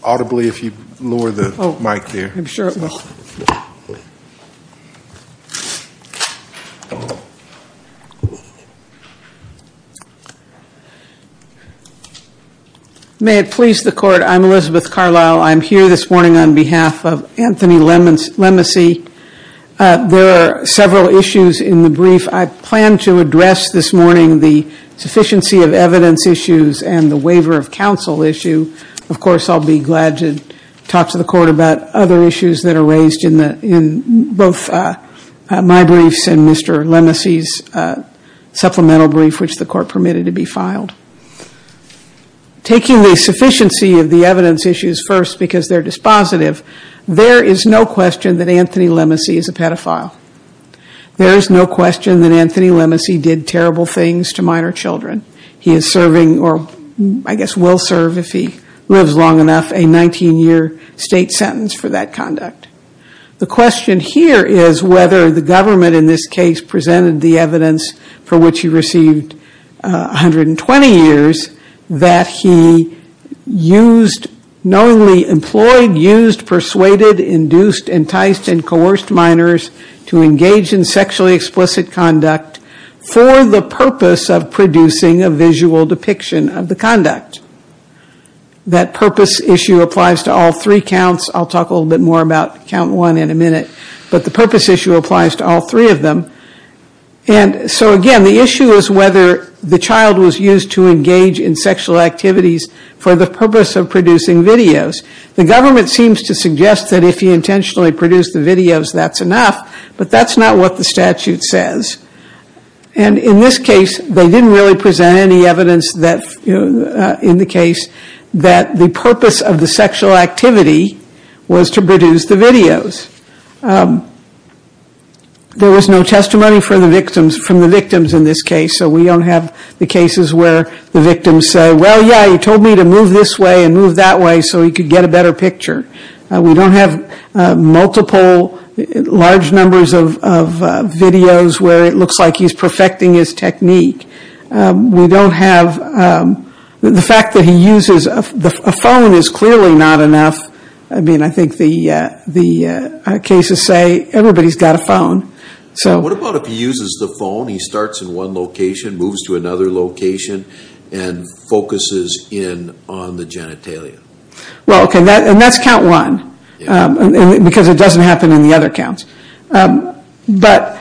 May it please the Court, I'm Elizabeth Carlisle. I'm here this morning on behalf of Anthony Lemicy. There are several issues in the brief. I plan to address this morning the sufficiency of evidence issues and the waiver of counsel issue. Of course, I'll be glad to talk to the Court about other issues that are raised in both my briefs and Mr. Lemicy's supplemental brief which the Court permitted to be filed. Taking the sufficiency of the evidence issues first because they're dispositive, there is no question that Anthony Lemicy is a pedophile. There is no question that Anthony Lemicy did terrible things to minor children. He is serving, or I guess will serve if he lives long enough, a 19-year state sentence for that conduct. The question here is whether the government in this case presented the evidence for which he received 120 years that he used, knowingly employed, used, persuaded, induced, enticed, and coerced minors to engage in sexually explicit conduct for the purpose of producing a visual depiction of the conduct. That purpose issue applies to all three counts. I'll talk a little bit more about count one in a minute, but the purpose issue applies to all three of them. Again, the issue is whether the child was used to engage in sexual activities for the purpose of producing videos. The government seems to suggest that if he intentionally produced the videos, that's enough, but that's not what the statute says. And in this case, they didn't really present any evidence that, in the case, that the purpose of the sexual activity was to produce the videos. There was no testimony from the victims in this case, so we don't have the cases where the victims say, well, yeah, he told me to move this way and move that way so he could get a better picture. We don't have multiple large numbers of videos where it looks like he's perfecting his technique. We don't have – the fact that he uses a phone is clearly not enough. I mean, I think the cases say everybody's got a phone. What about if he uses the phone, he starts in one location, moves to another location, and focuses in on the genitalia? Well, okay, and that's count one, because it doesn't happen in the other counts. But,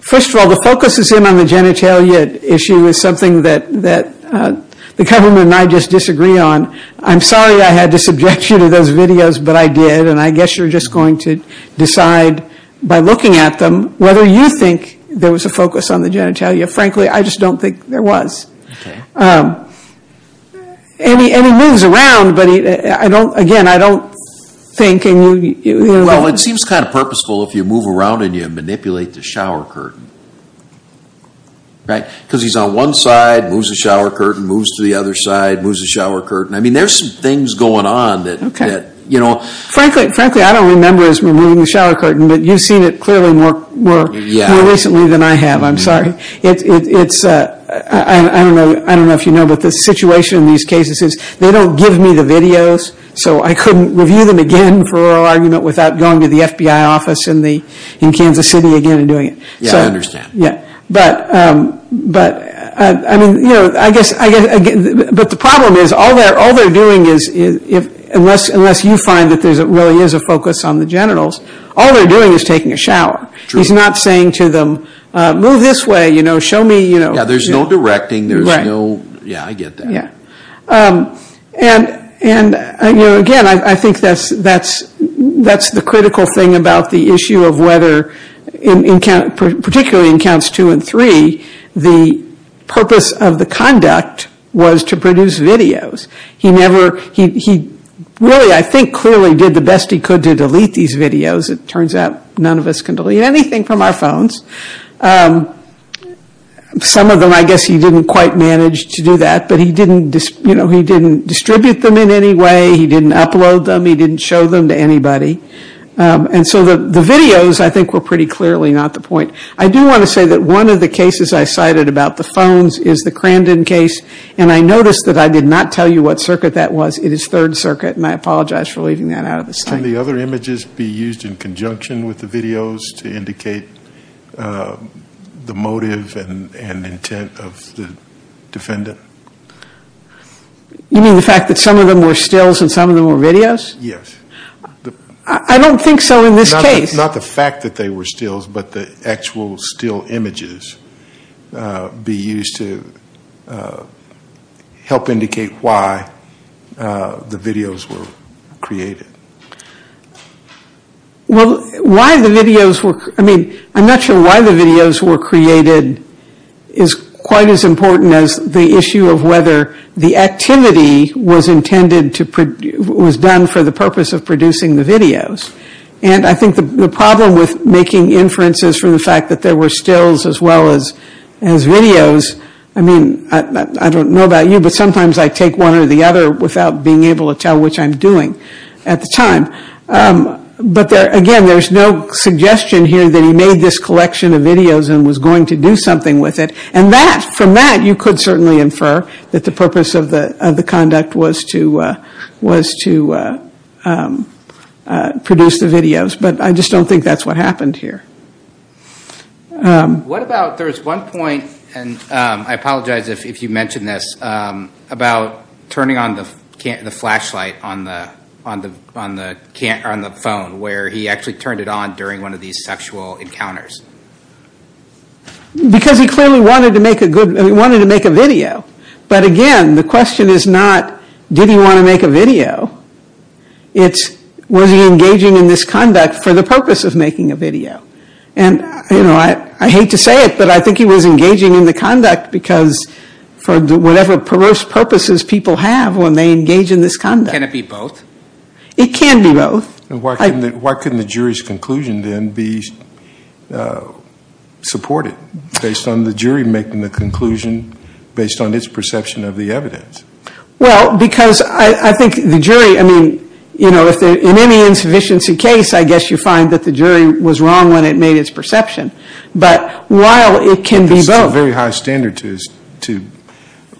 first of all, the focus is in on the genitalia issue is something that the government and I just disagree on. I'm sorry I had to subject you to those videos, but I did, and I guess you're just going to decide by looking at them whether you think there was a focus on the genitalia. Frankly, I just don't think there was. And he moves around, but I don't – again, I don't think – Well, it seems kind of purposeful if you move around and you manipulate the shower curtain, right? Because he's on one side, moves the shower curtain, moves to the other side, moves the shower curtain. I mean, there's some things going on that – Frankly, I don't remember us moving the shower curtain, but you've seen it clearly more recently than I have. I'm sorry. I don't know if you know, but the situation in these cases is they don't give me the videos, so I couldn't review them again for oral argument without going to the FBI office in Kansas City again and doing it. Yeah, I understand. But I mean, I guess – but the problem is all they're doing is – unless you find that there really is a focus on the genitals, all they're doing is taking a shower. True. He's not saying to them, move this way, show me – Yeah, there's no directing, there's no – yeah, I get that. And, you know, again, I think that's the critical thing about the issue of whether – particularly in counts two and three, the purpose of the conduct was to produce videos. He never – he really, I think, clearly did the best he could to delete these videos. It turns out none of us can delete anything from our phones. Some of them I guess he didn't quite manage to do that, but he didn't – you know, he didn't distribute them in any way, he didn't upload them, he didn't show them to anybody. And so the videos, I think, were pretty clearly not the point. I do want to say that one of the cases I cited about the phones is the Crandon case, and I noticed that I did not tell you what circuit that was. It is Third Circuit, and I apologize for leaving that out of the statement. Can the other images be used in conjunction with the videos to indicate the motive and intent of the defendant? You mean the fact that some of them were stills and some of them were videos? Yes. I don't think so in this case. Not the fact that they were stills, but the actual still images be used to help indicate why the videos were created. Well, why the videos were – I mean, I'm not sure why the videos were created is quite as important as the issue of whether the activity was intended to – was done for the purpose of producing the videos. And I think the problem with making inferences from the fact that there were stills as well as videos – I mean, I don't know about you, but sometimes I take one or the other without being able to tell which I'm doing at the time. But again, there's no suggestion here that he made this collection of videos and was going to do something with it. And that – from that, you could certainly infer that the purpose of the conduct was to produce the videos. But I just don't think that's what happened here. What about – there was one point, and I apologize if you mention this, about turning on the flashlight on the phone where he actually turned it on during one of these sexual encounters. Because he clearly wanted to make a good – he wanted to make a video. But again, the question is not did he want to make a video. It's was he engaging in this conduct for the purpose of making a video. And, you know, I hate to say it, but I think he was engaging in the conduct because for whatever perverse purposes people have when they engage in this conduct. Can it be both? It can be both. And why couldn't the jury's conclusion then be supported based on the jury making the conclusion based on its perception of the evidence? Well, because I think the jury – I mean, you know, in any insufficiency case, I guess you find that the jury was wrong when it made its perception. But while it can be both. There's still a very high standard to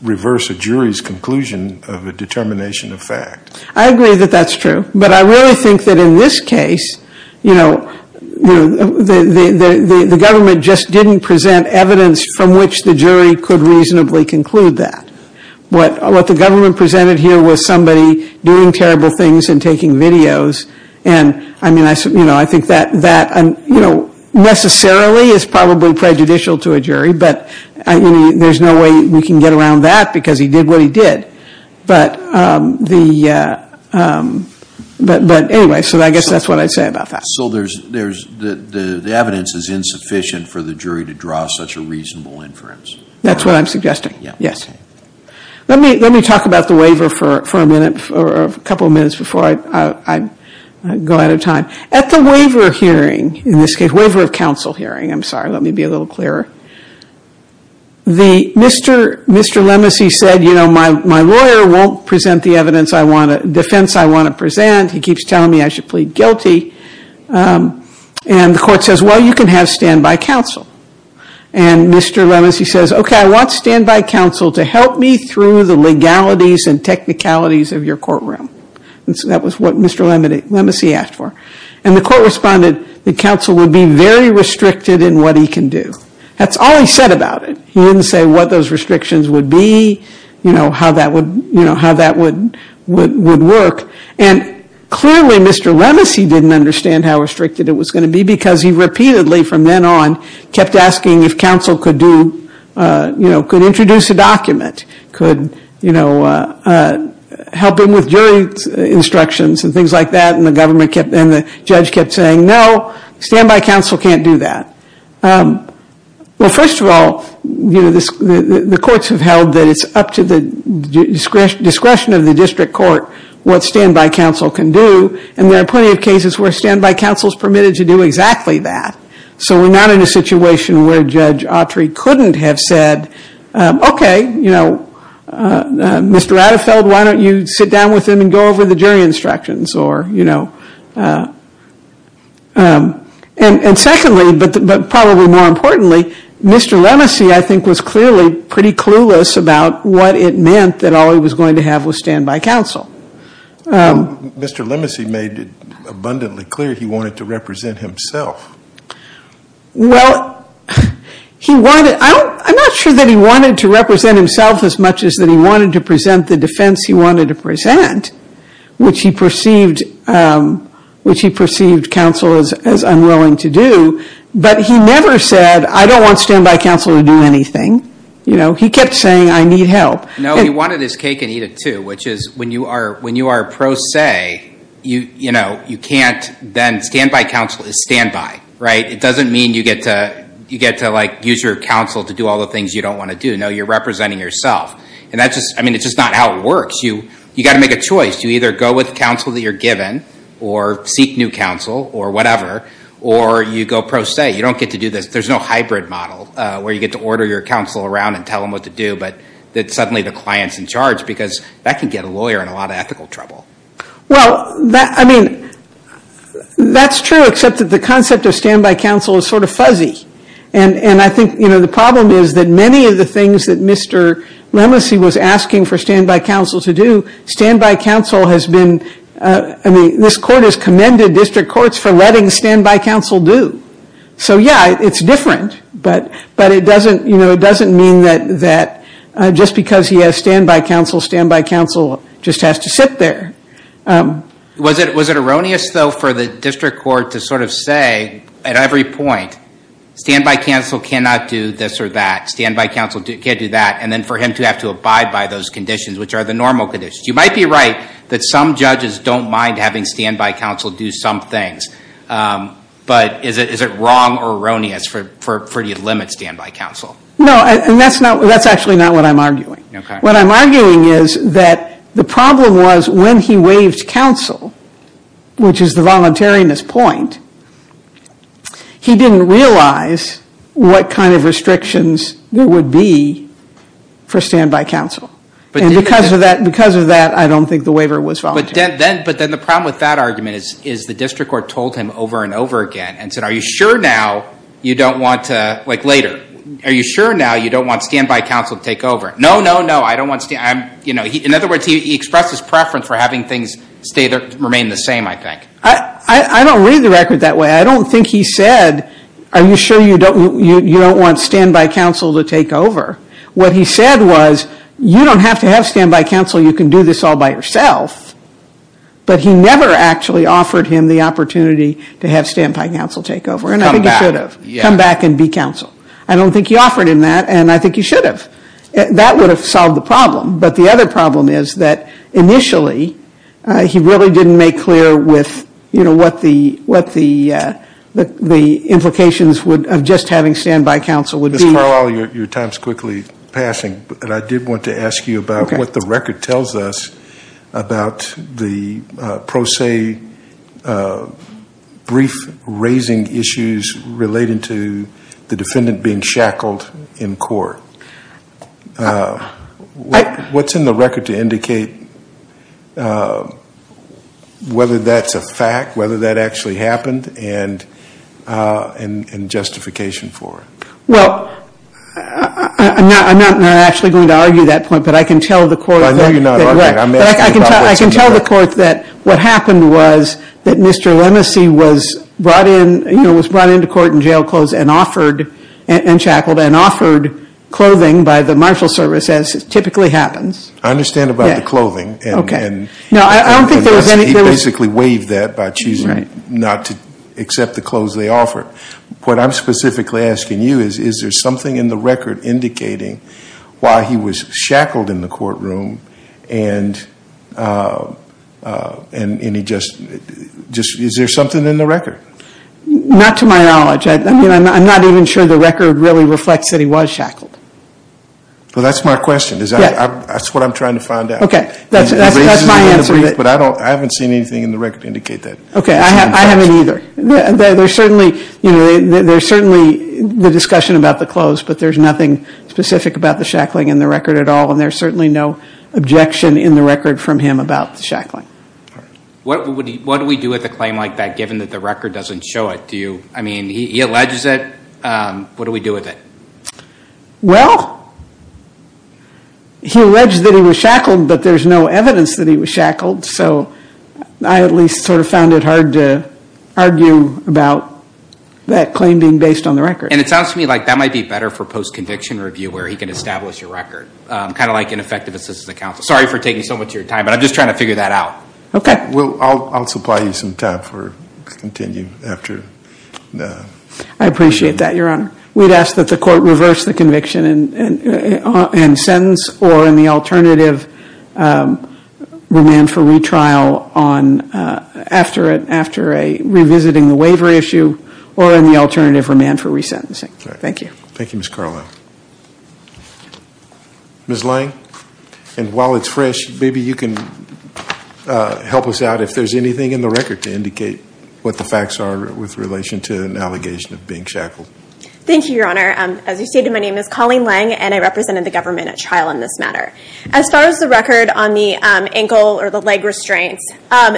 reverse a jury's conclusion of a determination of fact. I agree that that's true. But I really think that in this case, you know, the government just didn't present evidence from which the jury could reasonably conclude that. What the government presented here was somebody doing terrible things and taking videos. And, I mean, you know, I think that necessarily is probably prejudicial to a jury. But there's no way we can get around that because he did what he did. But anyway, so I guess that's what I'd say about that. So the evidence is insufficient for the jury to draw such a reasonable inference. That's what I'm suggesting. Let me talk about the waiver for a minute or a couple of minutes before I go out of time. At the waiver hearing, in this case, waiver of counsel hearing, I'm sorry, let me be a little clearer. Mr. Lemesey said, you know, my lawyer won't present the evidence I want to – defense I want to present. He keeps telling me I should plead guilty. And the court says, well, you can have standby counsel. And Mr. Lemesey says, okay, I want standby counsel to help me through the legalities and technicalities of your courtroom. And so that was what Mr. Lemesey asked for. And the court responded that counsel would be very restricted in what he can do. That's all he said about it. He didn't say what those restrictions would be, you know, how that would work. And clearly Mr. Lemesey didn't understand how restricted it was going to be because he repeatedly from then on kept asking if counsel could do, you know, could introduce a document, could, you know, help him with jury instructions and things like that. And the government kept – and the judge kept saying, no, standby counsel can't do that. Well, first of all, you know, the courts have held that it's up to the discretion of the district court what standby counsel can do. And there are plenty of cases where standby counsel is permitted to do exactly that. So we're not in a situation where Judge Autry couldn't have said, okay, you know, Mr. Adderfeld, why don't you sit down with him and go over the jury instructions or, you know. And secondly, but probably more importantly, Mr. Lemesey, I think, was clearly pretty clueless about what it meant that all he was going to have was standby counsel. Mr. Lemesey made it abundantly clear he wanted to represent himself. Well, he wanted – I'm not sure that he wanted to represent himself as much as that he wanted to present the defense he wanted to present, which he perceived counsel as unwilling to do. But he never said, I don't want standby counsel to do anything. You know, he kept saying, I need help. No, he wanted his cake and eat it too, which is when you are pro se, you know, you can't then – standby counsel is standby, right? It doesn't mean you get to, like, use your counsel to do all the things you don't want to do. No, you're representing yourself. And that's just – I mean, it's just not how it works. You've got to make a choice. You either go with counsel that you're given or seek new counsel or whatever, or you go pro se. You don't get to do this. There's no hybrid model where you get to order your counsel around and tell them what to do, but then suddenly the client's in charge because that can get a lawyer in a lot of ethical trouble. Well, I mean, that's true, except that the concept of standby counsel is sort of fuzzy. And I think, you know, the problem is that many of the things that Mr. Lemelsey was asking for standby counsel to do, standby counsel has been – I mean, this court has commended district courts for letting standby counsel do. So, yeah, it's different, but it doesn't – you know, it doesn't mean that just because he has standby counsel, standby counsel just has to sit there. Was it erroneous, though, for the district court to sort of say at every point, standby counsel cannot do this or that, standby counsel can't do that, and then for him to have to abide by those conditions, which are the normal conditions? You might be right that some judges don't mind having standby counsel do some things, but is it wrong or erroneous for you to limit standby counsel? No, and that's actually not what I'm arguing. What I'm arguing is that the problem was when he waived counsel, which is the voluntariness point, he didn't realize what kind of restrictions there would be for standby counsel. And because of that, I don't think the waiver was voluntary. But then the problem with that argument is the district court told him over and over again and said, are you sure now you don't want to – like later, are you sure now you don't want standby counsel to take over? No, no, no, I don't want – in other words, he expressed his preference for having things remain the same, I think. I don't read the record that way. I don't think he said, are you sure you don't want standby counsel to take over? What he said was, you don't have to have standby counsel. You can do this all by yourself. But he never actually offered him the opportunity to have standby counsel take over, and I think he should have. Come back and be counsel. I don't think he offered him that, and I think he should have. That would have solved the problem. But the other problem is that initially he really didn't make clear with, you know, what the implications of just having standby counsel would be. Ms. Marlowe, your time is quickly passing, but I did want to ask you about what the record tells us about the pro se brief raising issues relating to the defendant being shackled in court. What's in the record to indicate whether that's a fact, whether that actually happened, and justification for it? Well, I'm not actually going to argue that point, but I can tell the court. I know you're not arguing it. I'm asking about what's in the record. I can tell the court that what happened was that Mr. Lemesey was brought in, you know, was brought into court in jail clothes and offered, and shackled, and offered clothing by the marshal service, as typically happens. I understand about the clothing. Okay. And he basically waived that by choosing not to accept the clothes they offered. What I'm specifically asking you is, is there something in the record indicating why he was shackled in the courtroom, and is there something in the record? Not to my knowledge. I mean, I'm not even sure the record really reflects that he was shackled. Well, that's my question. That's what I'm trying to find out. That's my answer. But I haven't seen anything in the record indicate that. Okay. I haven't either. There's certainly, you know, there's certainly the discussion about the clothes, but there's nothing specific about the shackling in the record at all, and there's certainly no objection in the record from him about the shackling. What do we do with a claim like that, given that the record doesn't show it? Do you, I mean, he alleges it. What do we do with it? Well, he alleged that he was shackled, but there's no evidence that he was shackled. So I at least sort of found it hard to argue about that claim being based on the record. And it sounds to me like that might be better for post-conviction review, where he can establish a record, kind of like an effective assistance to counsel. Sorry for taking so much of your time, but I'm just trying to figure that out. Okay. I'll supply you some time to continue after. I appreciate that, Your Honor. We'd ask that the court reverse the conviction and sentence, or in the alternative, remand for retrial after revisiting the waiver issue, or in the alternative, remand for resentencing. Thank you. Thank you, Ms. Carlyle. Ms. Lange, and while it's fresh, maybe you can help us out if there's anything in the record to indicate what the facts are with relation to an allegation of being shackled. Thank you, Your Honor. As you stated, my name is Colleen Lange, and I represented the government at trial in this matter. As far as the record on the ankle or the leg restraints,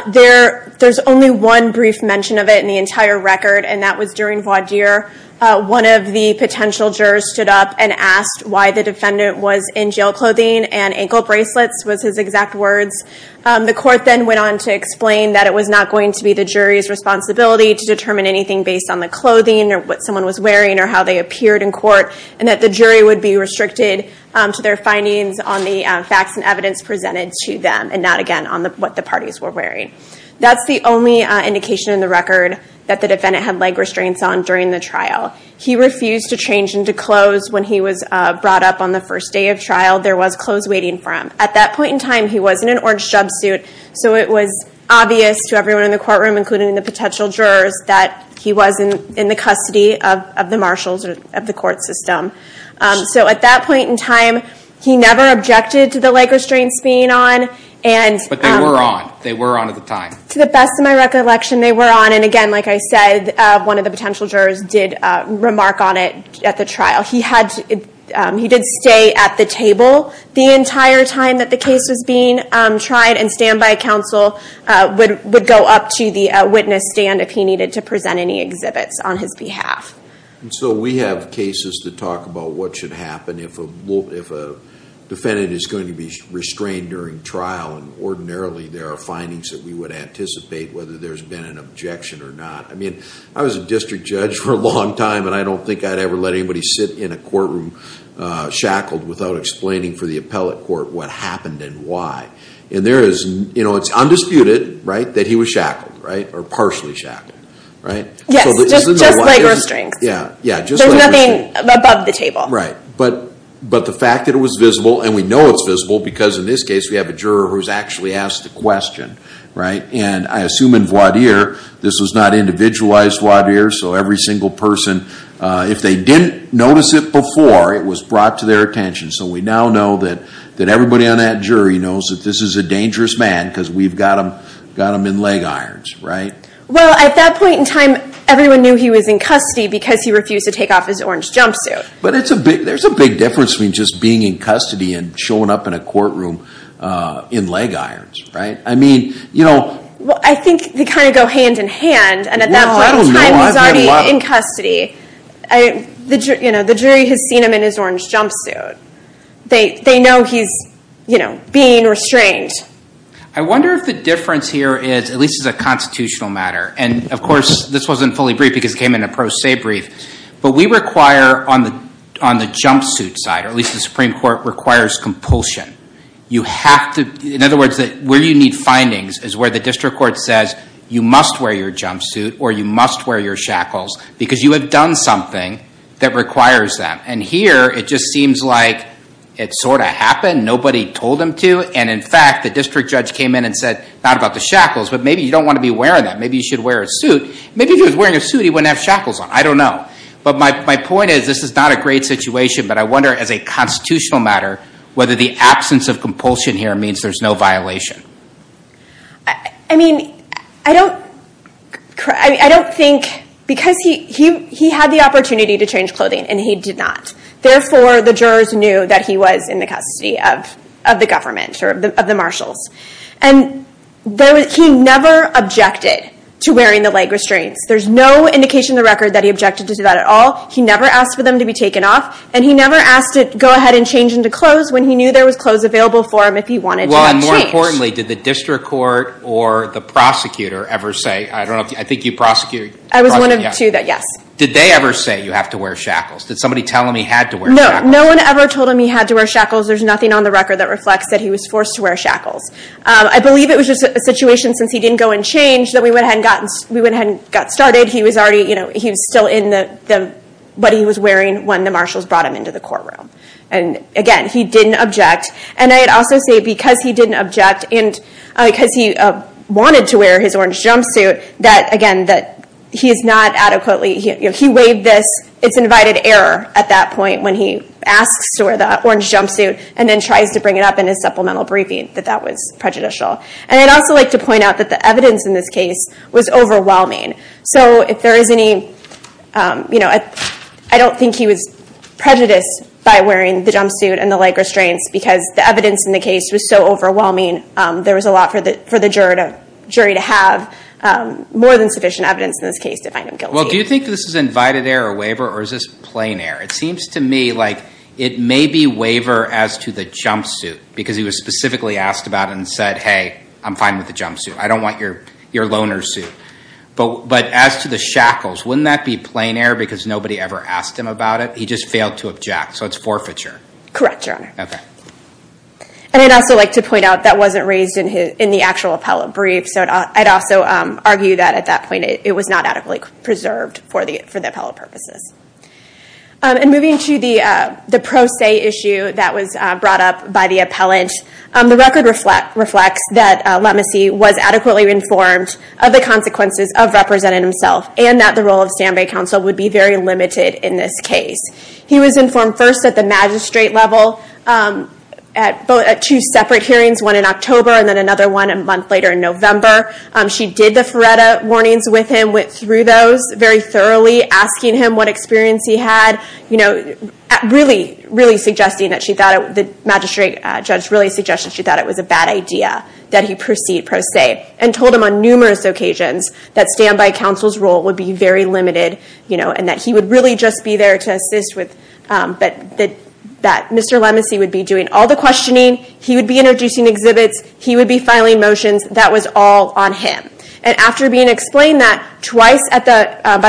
there's only one brief mention of it in the entire record, and that was during voir dire. One of the potential jurors stood up and asked why the defendant was in jail clothing, and ankle bracelets was his exact words. The court then went on to explain that it was not going to be the jury's responsibility to determine anything based on the clothing or what someone was wearing or how they appeared in court, and that the jury would be restricted to their findings on the facts and evidence presented to them, and not, again, on what the parties were wearing. That's the only indication in the record that the defendant had leg restraints on during the trial. He refused to change into clothes when he was brought up on the first day of trial. There was clothes waiting for him. At that point in time, he was in an orange jub suit, so it was obvious to everyone in the courtroom, including the potential jurors, that he was in the custody of the marshals of the court system. At that point in time, he never objected to the leg restraints being on. But they were on. They were on at the time. To the best of my recollection, they were on. Again, like I said, one of the potential jurors did remark on it at the trial. He did stay at the table the entire time that the case was being tried, and standby counsel would go up to the witness stand if he needed to present any exhibits on his behalf. We have cases to talk about what should happen if a defendant is going to be restrained during trial, and ordinarily there are findings that we would anticipate whether there's been an objection or not. I mean, I was a district judge for a long time, and I don't think I'd ever let anybody sit in a courtroom shackled without explaining for the appellate court what happened and why. It's undisputed that he was shackled, or partially shackled. Yes, just leg restraints. Yeah, just leg restraints. There's nothing above the table. Right, but the fact that it was visible, and we know it's visible, because in this case we have a juror who's actually asked the question, and I assume in voir dire, this was not individualized voir dire, so every single person, if they didn't notice it before, it was brought to their attention. So we now know that everybody on that jury knows that this is a dangerous man because we've got him in leg irons. Well, at that point in time, everyone knew he was in custody because he refused to take off his orange jumpsuit. But there's a big difference between just being in custody and showing up in a courtroom in leg irons. Well, I think they kind of go hand in hand, and at that point in time he's already in custody. The jury has seen him in his orange jumpsuit. They know he's being restrained. I wonder if the difference here is, at least as a constitutional matter, and, of course, this wasn't fully briefed because it came in a pro se brief, but we require on the jumpsuit side, or at least the Supreme Court requires compulsion. In other words, where you need findings is where the district court says you must wear your jumpsuit or you must wear your shackles because you have done something that requires that. And here it just seems like it sort of happened. Nobody told him to, and, in fact, the district judge came in and said, not about the shackles, but maybe you don't want to be wearing that. Maybe you should wear a suit. Maybe if he was wearing a suit, he wouldn't have shackles on. I don't know. But my point is this is not a great situation, but I wonder, as a constitutional matter, whether the absence of compulsion here means there's no violation. I mean, I don't think, because he had the opportunity to change clothing and he did not. Therefore, the jurors knew that he was in the custody of the government or of the marshals. And he never objected to wearing the leg restraints. There's no indication in the record that he objected to that at all. He never asked for them to be taken off. And he never asked to go ahead and change into clothes when he knew there was clothes available for him if he wanted to change. Well, and more importantly, did the district court or the prosecutor ever say? I don't know. I think you prosecuted. I was one of two that, yes. Did they ever say you have to wear shackles? Did somebody tell him he had to wear shackles? No. No one ever told him he had to wear shackles. There's nothing on the record that reflects that he was forced to wear shackles. I believe it was just a situation, since he didn't go and change, that we went ahead and got started. He was still in what he was wearing when the marshals brought him into the courtroom. And, again, he didn't object. And I'd also say because he didn't object and because he wanted to wear his orange jumpsuit, that, again, he is not adequately – he waived this. It's invited error at that point when he asks to wear the orange jumpsuit and then tries to bring it up in his supplemental briefing that that was prejudicial. And I'd also like to point out that the evidence in this case was overwhelming. So if there is any – I don't think he was prejudiced by wearing the jumpsuit and the leg restraints because the evidence in the case was so overwhelming, there was a lot for the jury to have more than sufficient evidence in this case to find him guilty. Well, do you think this is invited error waiver or is this plain error? It seems to me like it may be waiver as to the jumpsuit because he was specifically asked about it and said, hey, I'm fine with the jumpsuit. I don't want your loner suit. But as to the shackles, wouldn't that be plain error because nobody ever asked him about it? He just failed to object. So it's forfeiture. Correct, Your Honor. Okay. And I'd also like to point out that wasn't raised in the actual appellate brief. So I'd also argue that at that point it was not adequately preserved for the appellate purposes. And moving to the pro se issue that was brought up by the appellant, the record reflects that Lemesee was adequately informed of the consequences of representing himself and that the role of standby counsel would be very limited in this case. He was informed first at the magistrate level at two separate hearings, one in October and then another one a month later in November. She did the Feretta warnings with him, went through those very thoroughly, asking him what experience he had, really suggesting that she thought it was a bad idea that he proceed pro se, and told him on numerous occasions that standby counsel's role would be very limited and that he would really just be there to assist with that. Mr. Lemesee would be doing all the questioning. He would be introducing exhibits. He would be filing motions. That was all on him. And after being explained that twice by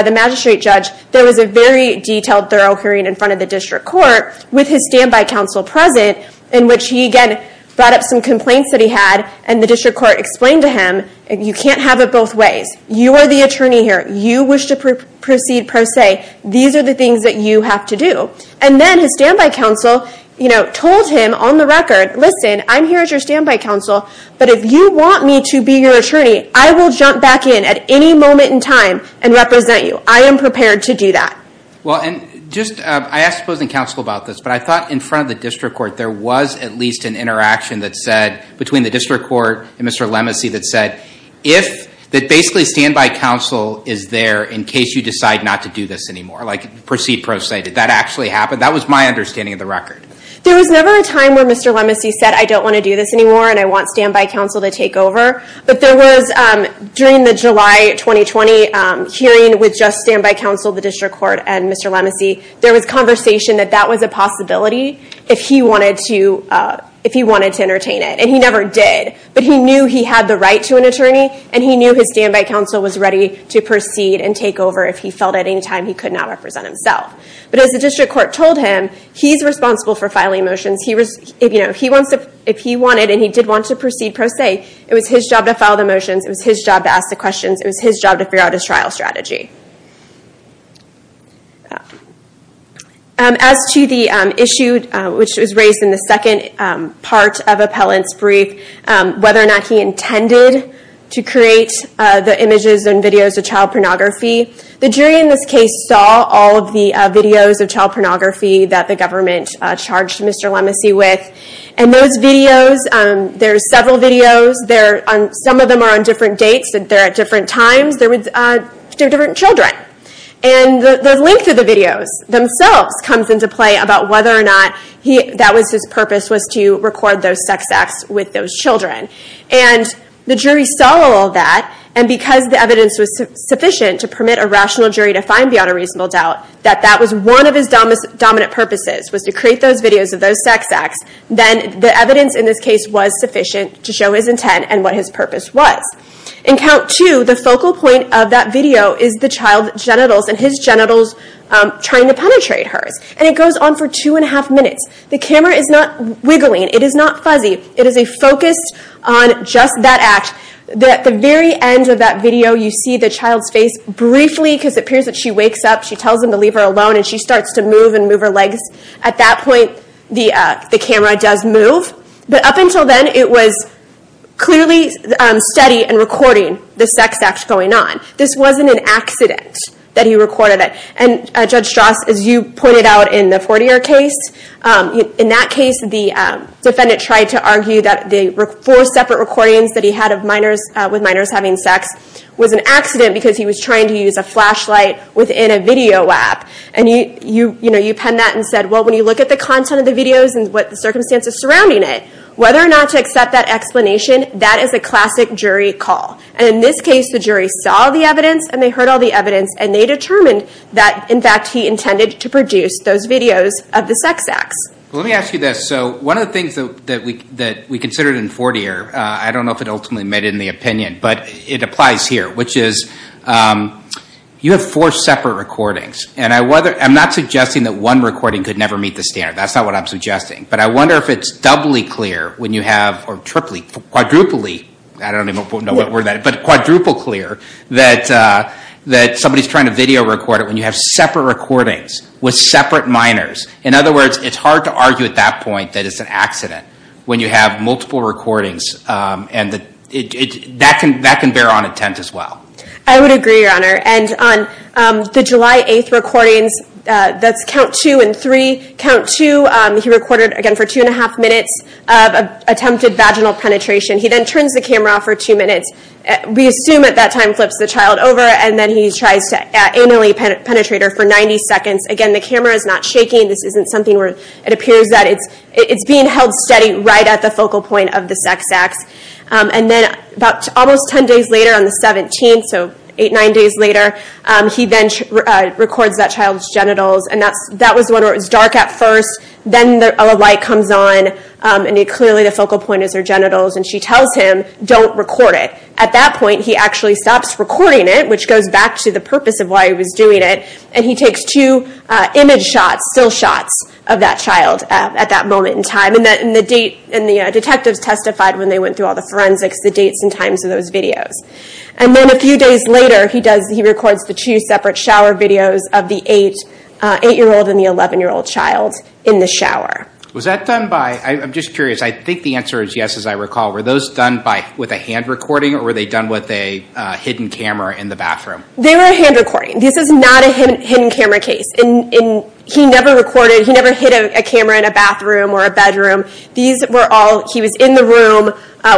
the magistrate judge, there was a very detailed thorough hearing in front of the district court with his standby counsel present, in which he again brought up some complaints that he had and the district court explained to him, you can't have it both ways. You are the attorney here. You wish to proceed pro se. These are the things that you have to do. And then his standby counsel told him on the record, listen, I'm here as your standby counsel, but if you want me to be your attorney, I will jump back in at any moment in time and represent you. I am prepared to do that. Well, and just I asked opposing counsel about this, but I thought in front of the district court there was at least an interaction that said between the district court and Mr. Lemesee that said, if that basically standby counsel is there in case you decide not to do this anymore, like proceed pro se, did that actually happen? That was my understanding of the record. There was never a time where Mr. Lemesee said I don't want to do this anymore and I want standby counsel to take over. But there was during the July 2020 hearing with just standby counsel, the district court, and Mr. Lemesee, there was conversation that that was a possibility if he wanted to entertain it. And he never did. But he knew he had the right to an attorney, and he knew his standby counsel was ready to proceed and take over if he felt at any time he could not represent himself. But as the district court told him, he's responsible for filing motions. If he wanted and he did want to proceed pro se, it was his job to file the motions, it was his job to ask the questions, it was his job to figure out his trial strategy. As to the issue which was raised in the second part of Appellant's brief, whether or not he intended to create the images and videos of child pornography, the jury in this case saw all of the videos of child pornography that the government charged Mr. Lemesee with. And those videos, there are several videos, some of them are on different dates and they're at different times, they're different children. And the length of the videos themselves comes into play about whether or not that was his purpose, was to record those sex acts with those children. And the jury saw all of that, and because the evidence was sufficient to permit a rational jury to find beyond a reasonable doubt, that that was one of his dominant purposes, was to create those videos of those sex acts, then the evidence in this case was sufficient to show his intent and what his purpose was. In count two, the focal point of that video is the child's genitals and his genitals trying to penetrate hers. And it goes on for two and a half minutes. The camera is not wiggling, it is not fuzzy, it is focused on just that act. At the very end of that video, you see the child's face briefly because it appears that she wakes up, she tells him to leave her alone and she starts to move and move her legs. At that point, the camera does move. But up until then, it was clearly steady and recording the sex act going on. This wasn't an accident that he recorded it. And Judge Strauss, as you pointed out in the Fortier case, in that case the defendant tried to argue that the four separate recordings that he had with minors having sex was an accident because he was trying to use a flashlight within a video app. And you penned that and said, well when you look at the content of the videos and the circumstances surrounding it, whether or not to accept that explanation, that is a classic jury call. And in this case, the jury saw the evidence and they heard all the evidence and they determined that in fact he intended to produce those videos of the sex acts. Let me ask you this. One of the things that we considered in Fortier, I don't know if it ultimately made it in the opinion, but it applies here, which is you have four separate recordings. I'm not suggesting that one recording could never meet the standard. That's not what I'm suggesting. But I wonder if it's doubly clear when you have, or triply, quadruply, I don't even know what word that is, but quadruple clear that somebody is trying to video record it when you have separate recordings with separate minors. In other words, it's hard to argue at that point that it's an accident when you have multiple recordings. That can bear on intent as well. I would agree, Your Honor. And on the July 8th recordings, that's count two and three. Count two, he recorded again for two and a half minutes of attempted vaginal penetration. He then turns the camera off for two minutes. We assume at that time he flips the child over and then he tries to anally penetrate her for 90 seconds. Again, the camera is not shaking. This isn't something where it appears that it's being held steady right at the focal point of the sex acts. Then about almost ten days later, on the 17th, so eight, nine days later, he then records that child's genitals. That was when it was dark at first. Then a light comes on, and clearly the focal point is her genitals. She tells him, don't record it. At that point, he actually stops recording it, which goes back to the purpose of why he was doing it. He takes two image shots, still shots, of that child at that moment in time. The detectives testified when they went through all the forensics the dates and times of those videos. Then a few days later, he records the two separate shower videos of the eight-year-old and the 11-year-old child in the shower. Was that done by... I'm just curious. I think the answer is yes, as I recall. Were those done with a hand recording, or were they done with a hidden camera in the bathroom? They were hand recording. This is not a hidden camera case. He never recorded, he never hid a camera in a bathroom or a bedroom. He was in the room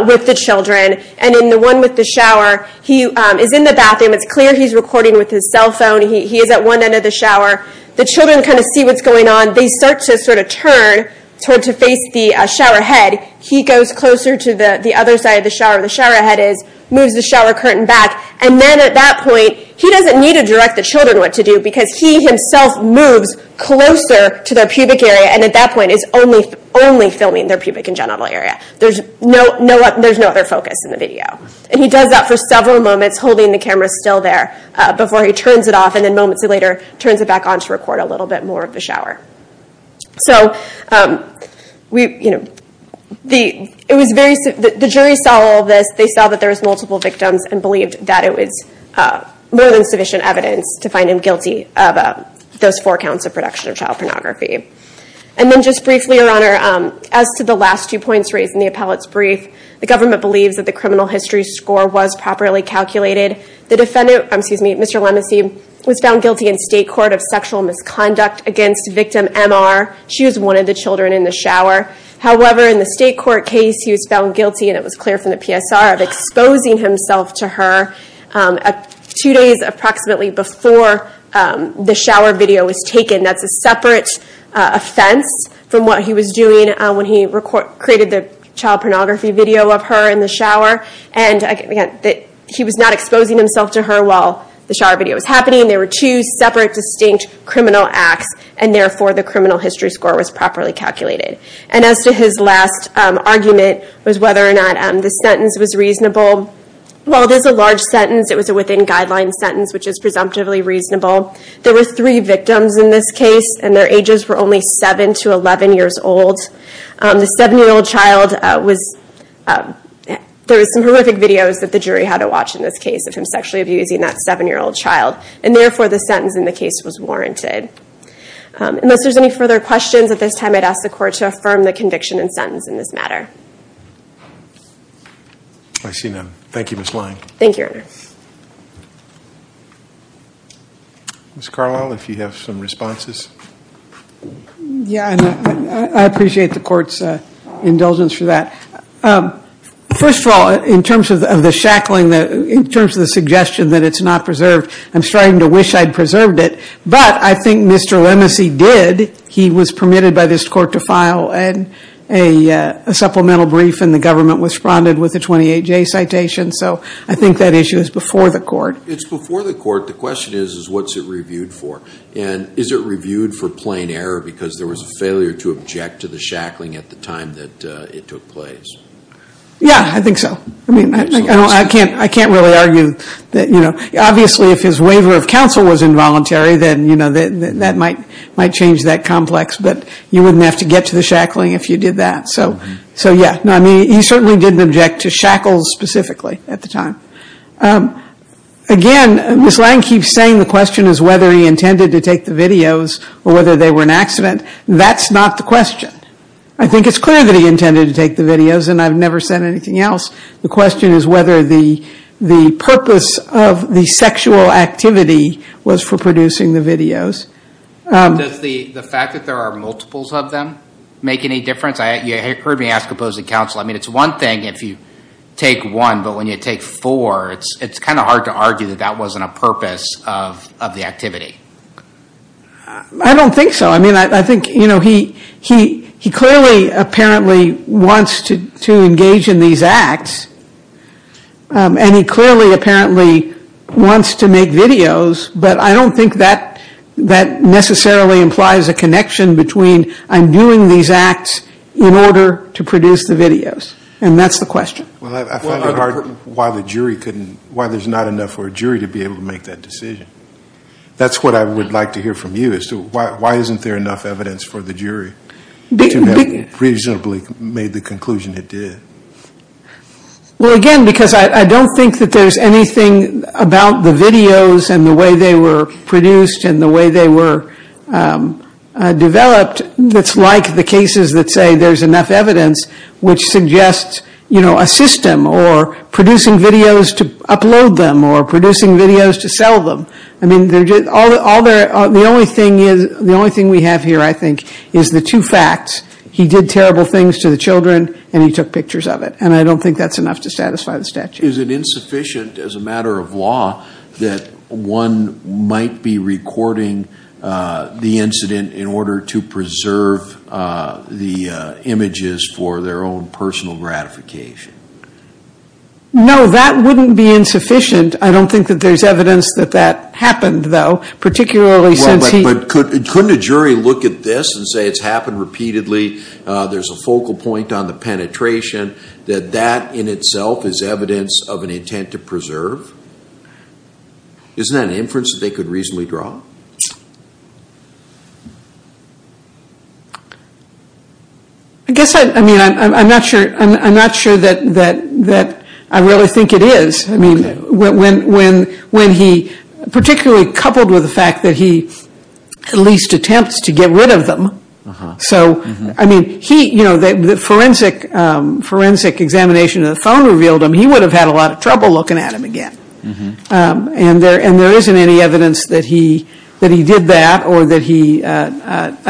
with the children. In the one with the shower, he is in the bathroom. It's clear he's recording with his cell phone. He is at one end of the shower. The children see what's going on. They start to turn to face the shower head. He goes closer to the other side of the shower where the shower head is, moves the shower curtain back. Then at that point, he doesn't need to direct the children what to do because he himself moves closer to their pubic area and at that point is only filming their pubic and genital area. There's no other focus in the video. He does that for several moments, holding the camera still there before he turns it off, and then moments later turns it back on to record a little bit more of the shower. The jury saw all of this. They saw that there were multiple victims and believed that it was more than sufficient evidence to find him guilty of those four counts of production of child pornography. Just briefly, Your Honor, as to the last two points raised in the appellate's brief, the government believes that the criminal history score was properly calculated. Mr. Lemesee was found guilty in state court of sexual misconduct against victim MR. She was one of the children in the shower. However, in the state court case, he was found guilty, and it was clear from the PSR, of exposing himself to her two days approximately before the shower video was taken. That's a separate offense from what he was doing when he created the child pornography video of her in the shower. He was not exposing himself to her while the shower video was happening. They were two separate, distinct criminal acts, and therefore the criminal history score was properly calculated. As to his last argument, was whether or not the sentence was reasonable, while it is a large sentence, it was a within-guidelines sentence, which is presumptively reasonable. There were three victims in this case, and their ages were only 7 to 11 years old. The 7-year-old child was... There were some horrific videos that the jury had to watch in this case of him sexually abusing that 7-year-old child, and therefore the sentence in the case was warranted. Unless there's any further questions, at this time I'd ask the court to affirm the conviction and sentence in this matter. I see none. Thank you, Ms. Lyon. Thank you, Your Honor. Ms. Carlisle, if you have some responses. I appreciate the court's indulgence for that. First of all, in terms of the shackling, in terms of the suggestion that it's not preserved, I'm starting to wish I'd preserved it, but I think Mr. Lemesey did. He was permitted by this court to file a supplemental brief, and the government responded with a 28-J citation, so I think that issue is before the court. It's before the court. The question is, what's it reviewed for? Is it reviewed for plain error because there was a failure to object to the shackling at the time that it took place? Yeah, I think so. I can't really argue. Obviously, if his waiver of counsel was involuntary, then that might change that complex, but you wouldn't have to get to the shackling if you did that. He certainly didn't object to shackles specifically at the time. Again, Ms. Lang keeps saying the question is whether he intended to take the videos or whether they were an accident. That's not the question. I think it's clear that he intended to take the videos, and I've never said anything else. The question is whether the purpose of the sexual activity was for producing the videos. Does the fact that there are multiples of them make any difference? You heard me ask opposing counsel. It's one thing if you take one, but when you take four, it's kind of hard to argue that that wasn't a purpose of the activity. I don't think so. He clearly apparently wants to engage in these acts, and he clearly apparently wants to make videos, but I don't think that necessarily implies a connection between I'm doing these acts in order to produce the videos. That's the question. I find it hard why there's not enough for a jury to be able to make that decision. That's what I would like to hear from you. Why isn't there enough evidence for the jury to have reasonably made the conclusion it did? Again, because I don't think that there's anything about the videos and the way they were produced and the way they were developed that's like the cases that say there's enough evidence which suggests a system or producing videos to upload them or producing videos to sell them. The only thing we have here, I think, is the two facts. He did terrible things to the children and he took pictures of it, and I don't think that's enough to satisfy the statute. Is it insufficient as a matter of law that one might be recording the incident in order to preserve the images for their own personal gratification? No, that wouldn't be insufficient. I don't think that there's evidence that that happened, though, particularly since he... Couldn't a jury look at this and say it's happened repeatedly, there's a focal point on the penetration, that that in itself is evidence of an intent to preserve? Isn't that an inference that they could reasonably draw? I guess, I mean, I'm not sure that I really think it is. I mean, when he, particularly coupled with the fact that he at least attempts to get rid of them. So, I mean, he, you know, the forensic examination of the phone revealed him, he would have had a lot of trouble looking at him again. And there isn't any evidence that he, that he did that or that he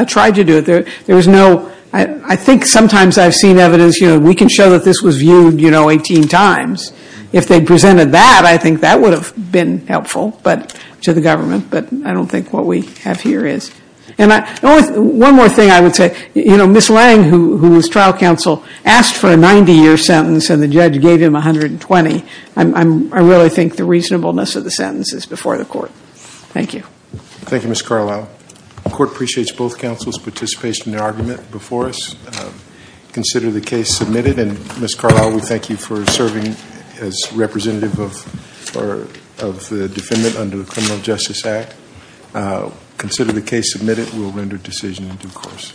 tried to do it. There was no, I think sometimes I've seen evidence, you know, we can show that this was viewed, you know, 18 times. If they presented that, I think that would have been helpful, but, to the government. But I don't think what we have here is. And one more thing I would say, you know, Ms. Lange, who was trial counsel, asked for a 90-year sentence and the judge gave him 120. I really think the reasonableness of the sentence is before the court. Thank you. Thank you, Ms. Carlisle. The court appreciates both counsel's participation in the argument before us. Consider the case submitted. And, Ms. Carlisle, we thank you for serving as representative of the defendant under the Criminal Justice Act. Consider the case submitted. We will render decision in due course.